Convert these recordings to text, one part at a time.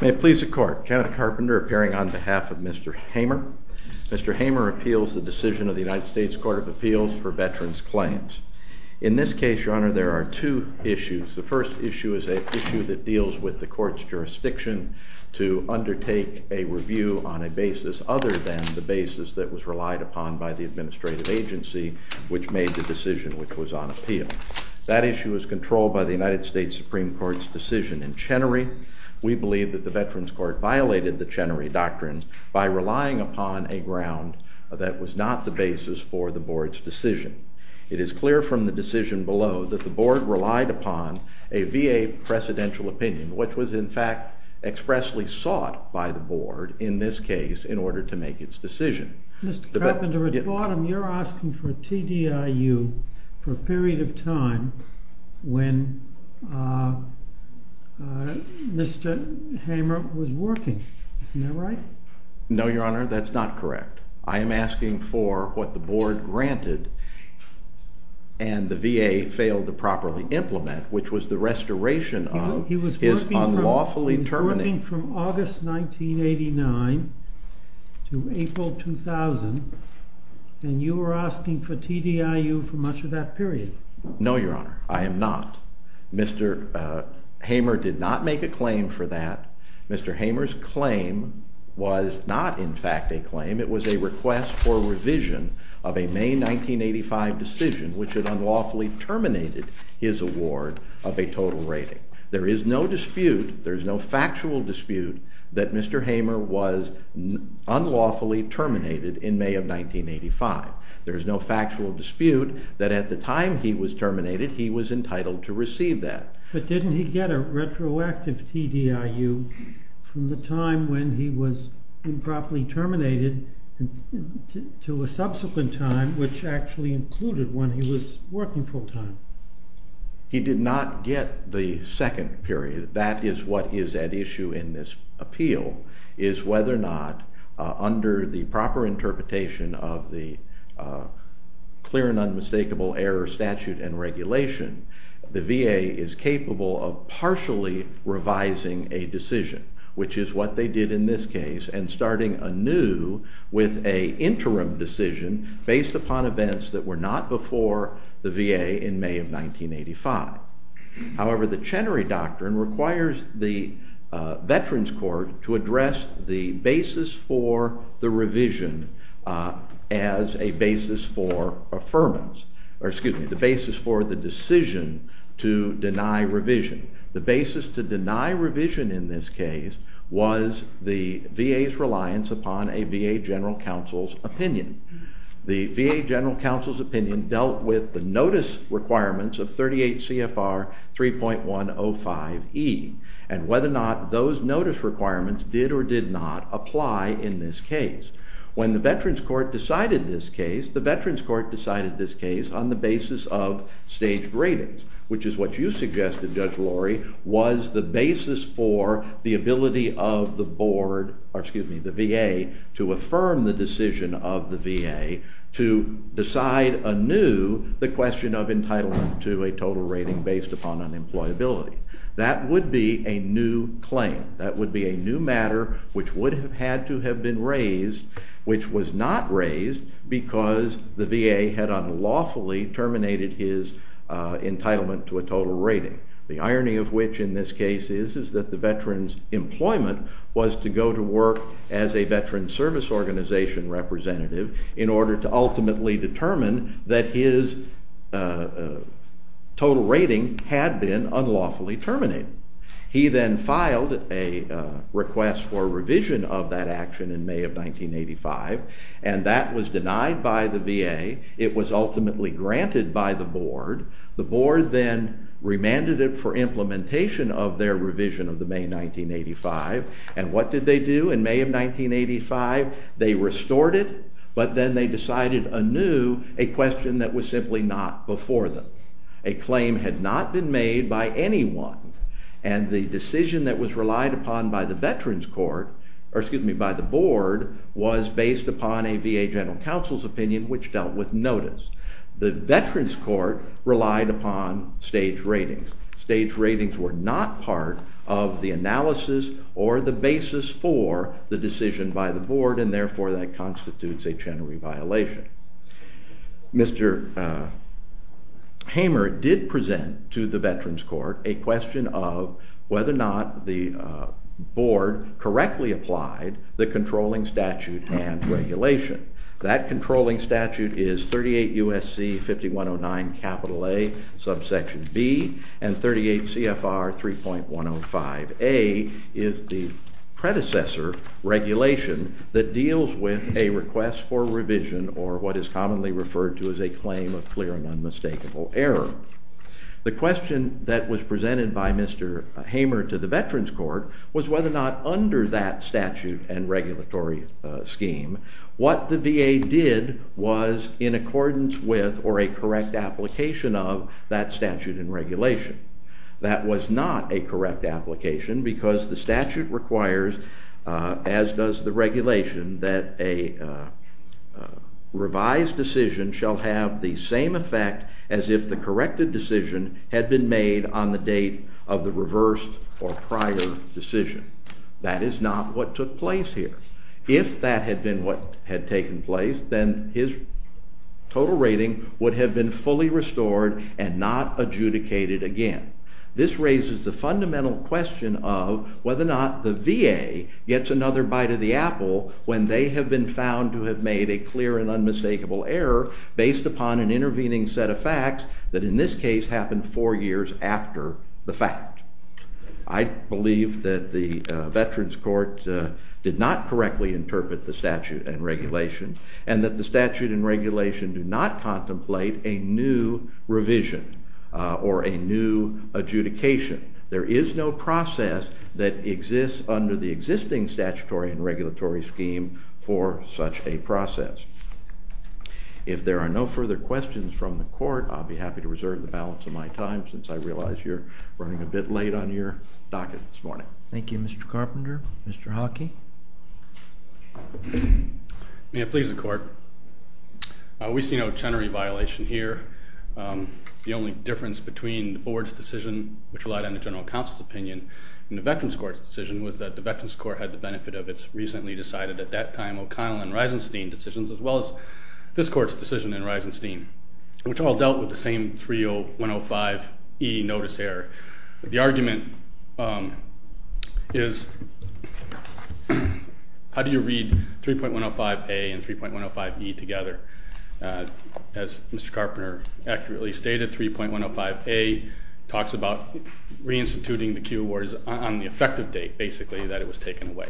May it please the Court, Kenneth Carpenter appearing on behalf of Mr. Hamer. Mr. Hamer appeals the decision of the United States Court of Appeals for Veterans Claims. In this case, Your Honor, there are two issues. The first issue is an issue that deals with the Court's jurisdiction to undertake a review on a basis other than the basis that was relied upon by the administrative agency which made the decision which was on appeal. That issue is controlled by the United States Supreme Court's decision in Chenery. We believe that the Veterans Court violated the Chenery Doctrine by relying upon a ground that was not the basis for the Board's decision. It is clear from the decision below that the Board relied upon a VA precedential opinion which was in fact expressly sought by the Board in this case in order to make its decision. Mr. Carpenter, at the bottom you're asking for a TDIU for a period of time when Mr. Hamer was working. Isn't that right? No, Your Honor, that's not correct. I am asking for what the Board granted and the VA failed to properly implement, which was the restoration of his unlawfully terminating. You're going from August 1989 to April 2000, and you are asking for TDIU for much of that period. No, Your Honor, I am not. Mr. Hamer did not make a claim for that. Mr. Hamer's claim was not in fact a claim. It was a request for revision of a May 1985 decision which had unlawfully terminated his award of a total rating. There is no dispute, there is no factual dispute that Mr. Hamer was unlawfully terminated in May of 1985. There is no factual dispute that at the time he was terminated he was entitled to receive that. But didn't he get a retroactive TDIU from the time when he was improperly terminated to a subsequent time which actually included when he was working full-time? He did not get the second period. That is what is at issue in this appeal is whether or not under the proper interpretation of the clear and unmistakable error statute and regulation, the VA is capable of partially revising a decision, which is what they did in this case, and starting anew with an interim decision based upon events that were not before the VA in May of 1985. However, the Chenery Doctrine requires the Veterans Court to address the basis for the revision as a basis for the decision to deny revision. The basis to deny revision in this case was the VA's reliance upon a VA General Counsel's opinion. The VA General Counsel's opinion dealt with the notice requirements of 38 CFR 3.105E and whether or not those notice requirements did or did not apply in this case. When the Veterans Court decided this case, the Veterans Court decided this case on the basis of staged ratings, which is what you suggested, Judge Lori, was the basis for the ability of the VA to affirm the decision of the VA to decide anew the question of entitlement to a total rating based upon unemployability. That would be a new claim. That would be a new matter which would have had to have been raised, which was not raised because the VA had unlawfully terminated his entitlement to a total rating, the irony of which in this case is that the veteran's employment was to go to work as a veteran service organization representative in order to ultimately determine that his total rating had been unlawfully terminated. He then filed a request for revision of that action in May of 1985, and that was denied by the VA. It was ultimately granted by the Board. The Board then remanded it for implementation of their revision of the May 1985. And what did they do in May of 1985? They restored it, but then they decided anew a question that was simply not before them. A claim had not been made by anyone, and the decision that was relied upon by the Board was based upon a VA general counsel's opinion which dealt with notice. The Veterans Court relied upon stage ratings. Stage ratings were not part of the analysis or the basis for the decision by the Board, and therefore that constitutes a general reviolation. Mr. Hamer did present to the Veterans Court a question of whether or not the Board correctly applied the controlling statute and regulation. That controlling statute is 38 U.S.C. 5109 A, subsection B, and 38 CFR 3.105 A is the predecessor regulation that deals with a request for revision or what is commonly referred to as a claim of clear and unmistakable error. The question that was presented by Mr. Hamer to the Veterans Court was whether or not under that statute and regulatory scheme, what the VA did was in accordance with or a correct application of that statute and regulation. That was not a correct application because the statute requires, as does the regulation, that a revised decision shall have the same effect as if the corrected decision had been made on the date of the reversed or prior decision. That is not what took place here. If that had been what had taken place, then his total rating would have been fully restored and not adjudicated again. This raises the fundamental question of whether or not the VA gets another bite of the apple when they have been found to have made a clear and unmistakable error based upon an intervening set of facts that in this case happened four years after the fact. I believe that the Veterans Court did not correctly interpret the statute and regulation and that the statute and regulation do not contemplate a new revision or a new adjudication. There is no process that exists under the existing statutory and regulatory scheme for such a process. If there are no further questions from the court, I'll be happy to reserve the balance of my time since I realize you're running a bit late on your docket this morning. Thank you, Mr. Carpenter. Mr. Hockey? May it please the court. We see no Chenery violation here. The only difference between the board's decision, which relied on the general counsel's opinion, and the Veterans Court's decision was that the Veterans Court had the benefit of its recently decided, at that time, O'Connell and Reisenstein decisions as well as this court's decision in Reisenstein, which all dealt with the same 30105E notice error. The argument is how do you read 3.105A and 3.105E together? As Mr. Carpenter accurately stated, 3.105A talks about reinstituting the Q awards on the effective date, basically, that it was taken away.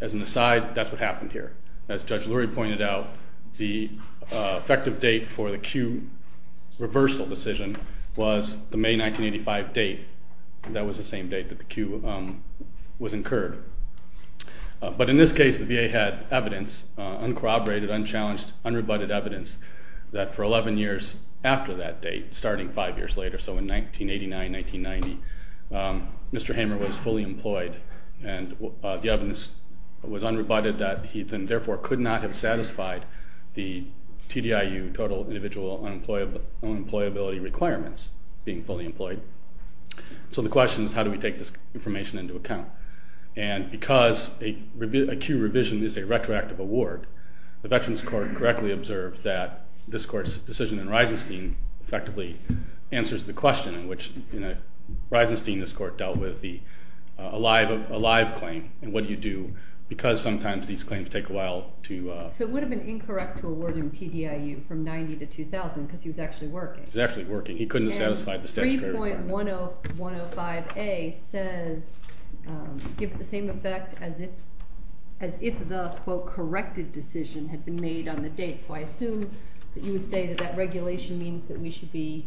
As an aside, that's what happened here. As Judge Lurie pointed out, the effective date for the Q reversal decision was the May 1985 date. That was the same date that the Q was incurred. But in this case, the VA had evidence, uncorroborated, unchallenged, unrebutted evidence, that for 11 years after that date, starting five years later, so in 1989, 1990, Mr. Hamer was fully employed. And the evidence was unrebutted that he then therefore could not have satisfied the TDIU total individual unemployability requirements, being fully employed. So the question is how do we take this information into account? And because a Q revision is a retroactive award, the Veterans Court correctly observed that this court's decision in Reisenstein effectively answers the question in which Reisenstein, this court, dealt with a live claim. And what do you do? Because sometimes these claims take a while to- So it would have been incorrect to award him TDIU from 1990 to 2000 because he was actually working. He was actually working. He couldn't have satisfied the statutory requirement. And 3.105A says give it the same effect as if the, quote, corrected decision had been made on the date. So I assume that you would say that that regulation means that we should be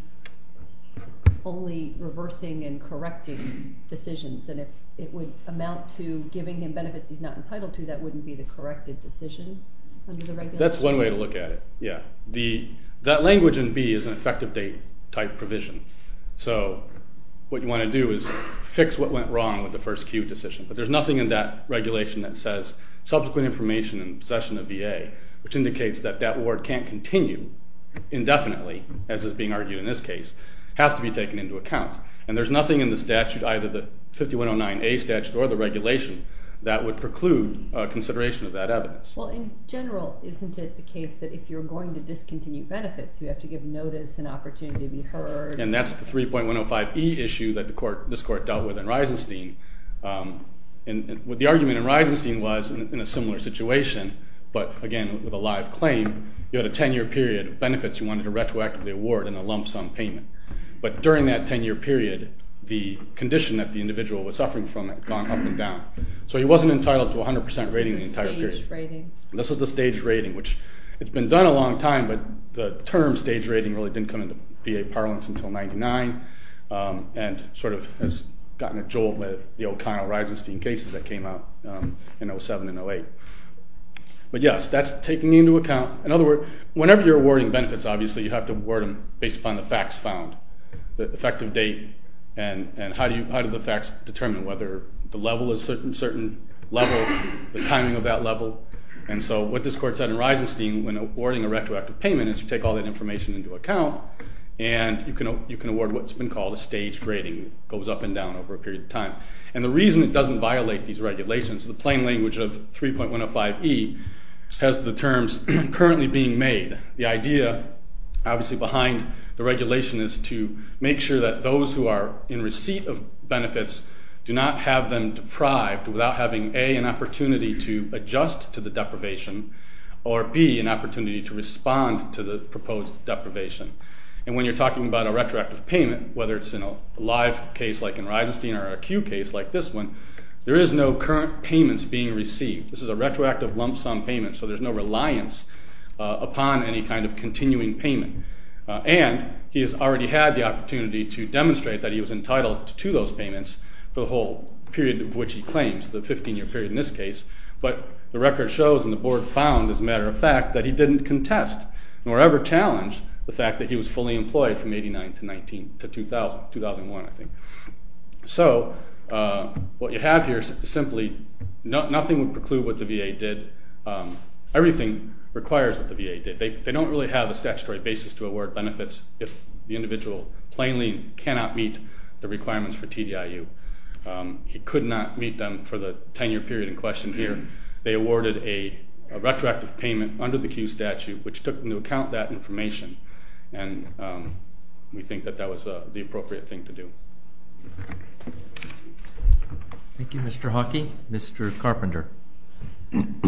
only reversing and correcting decisions. And if it would amount to giving him benefits he's not entitled to, that wouldn't be the corrected decision under the regulation? That's one way to look at it, yeah. That language in B is an effective date type provision. So what you want to do is fix what went wrong with the first Q decision. But there's nothing in that regulation that says subsequent information in possession of VA, which indicates that that award can't continue indefinitely, as is being argued in this case, has to be taken into account. And there's nothing in the statute, either the 5109A statute or the regulation, that would preclude consideration of that evidence. Well, in general, isn't it the case that if you're going to discontinue benefits you have to give notice and opportunity to be heard? And that's the 3.105E issue that this court dealt with in Reisenstein. And the argument in Reisenstein was in a similar situation, but again, with a live claim, you had a 10-year period of benefits you wanted to retroactively award in a lump sum payment. But during that 10-year period, the condition that the individual was suffering from had gone up and down. So he wasn't entitled to 100% rating the entire period. This is the staged rating. Which, it's been done a long time, but the term staged rating really didn't come into VA parlance until 1999, and sort of has gotten a jolt with the O'Connell-Reisenstein cases that came out in 07 and 08. But yes, that's taken into account. In other words, whenever you're awarding benefits, obviously, you have to award them based upon the facts found, the effective date, and how do the facts determine whether the level is a certain level, the timing of that level. And so what this court said in Reisenstein, when awarding a retroactive payment, is you take all that information into account, and you can award what's been called a staged rating that goes up and down over a period of time. And the reason it doesn't violate these regulations, the plain language of 3.105e, has the terms currently being made. The idea, obviously, behind the regulation is to make sure that those who are in receipt of benefits do not have them deprived without having A, an opportunity to adjust to the deprivation, or B, an opportunity to respond to the proposed deprivation. And when you're talking about a retroactive payment, whether it's in a live case like in Reisenstein or a queue case like this one, there is no current payments being received. This is a retroactive lump sum payment, so there's no reliance upon any kind of continuing payment. And he has already had the opportunity to demonstrate that he was entitled to those payments for the whole period of which he claims, the 15-year period in this case, but the record shows and the board found, as a matter of fact, that he didn't contest nor ever challenge the fact that he was fully employed from 1989 to 2000, 2001, I think. So what you have here is simply nothing would preclude what the VA did. Everything requires what the VA did. They don't really have a statutory basis to award benefits if the individual plainly cannot meet the requirements for TDIU. He could not meet them for the 10-year period in question here. They awarded a retroactive payment under the queue statute, which took into account that information, and we think that that was the appropriate thing to do. Thank you, Mr. Hawkey. Mr. Carpenter. The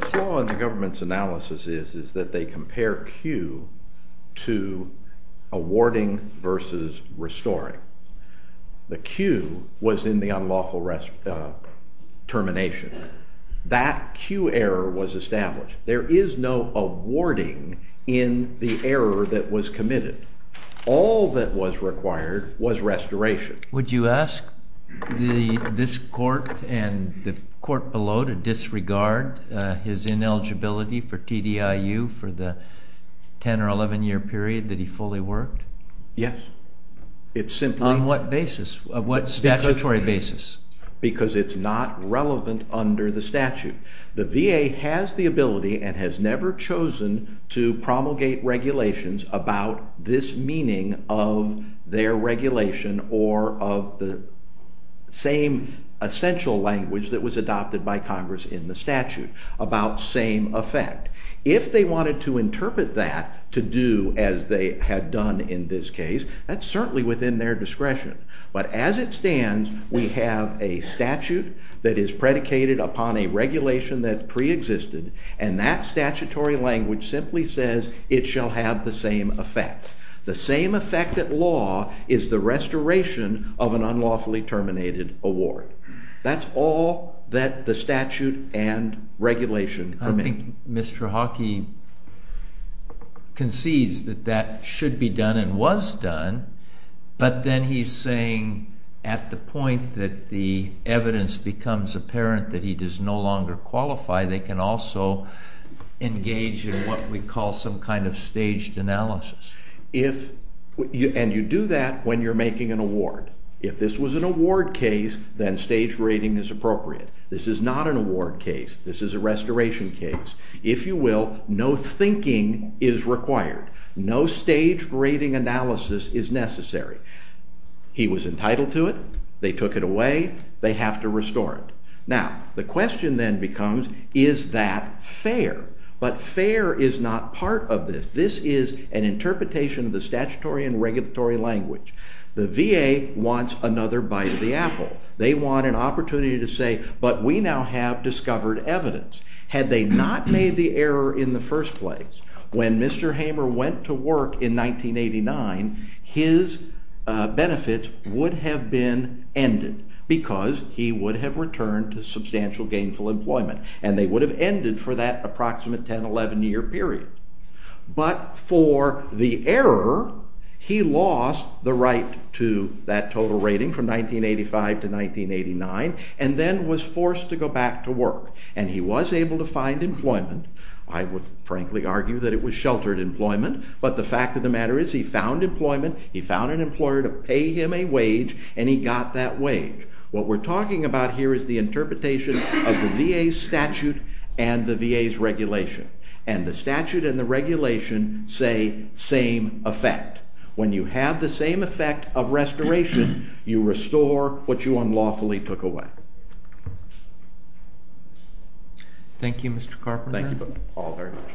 flaw in the government's analysis is that they compare queue to awarding versus restoring. The queue was in the unlawful termination. That queue error was established. There is no awarding in the error that was committed. All that was required was restoration. Would you ask this court and the court below to disregard his ineligibility for TDIU for the 10- or 11-year period that he fully worked? Yes. On what basis? Statutory basis. Because it's not relevant under the statute. The VA has the ability and has never chosen to promulgate regulations about this meaning of their regulation or of the same essential language that was adopted by Congress in the statute, about same effect. If they wanted to interpret that to do as they had done in this case, that's certainly within their discretion. But as it stands, we have a statute that is predicated upon a regulation that preexisted, and that statutory language simply says it shall have the same effect. The same effect at law is the restoration of an unlawfully terminated award. That's all that the statute and regulation permit. Mr. Hockey concedes that that should be done and was done, but then he's saying at the point that the evidence becomes apparent that he does no longer qualify, they can also engage in what we call some kind of staged analysis. And you do that when you're making an award. If this was an award case, then stage rating is appropriate. This is not an award case. This is a restoration case. If you will, no thinking is required. No stage rating analysis is necessary. He was entitled to it. They took it away. They have to restore it. Now, the question then becomes, is that fair? But fair is not part of this. This is an interpretation of the statutory and regulatory language. The VA wants another bite of the apple. They want an opportunity to say, but we now have discovered evidence. Had they not made the error in the first place, when Mr. Hamer went to work in 1989, his benefits would have been ended because he would have returned to substantial gainful employment, and they would have ended for that approximate 10, 11-year period. But for the error, he lost the right to that total rating from 1985 to 1989, and then was forced to go back to work. And he was able to find employment. I would frankly argue that it was sheltered employment, but the fact of the matter is he found employment. He found an employer to pay him a wage, and he got that wage. What we're talking about here is the interpretation of the VA's statute and the VA's regulation. And the statute and the regulation say same effect. When you have the same effect of restoration, you restore what you unlawfully took away. Thank you, Mr. Carpenter. Thank you all very much.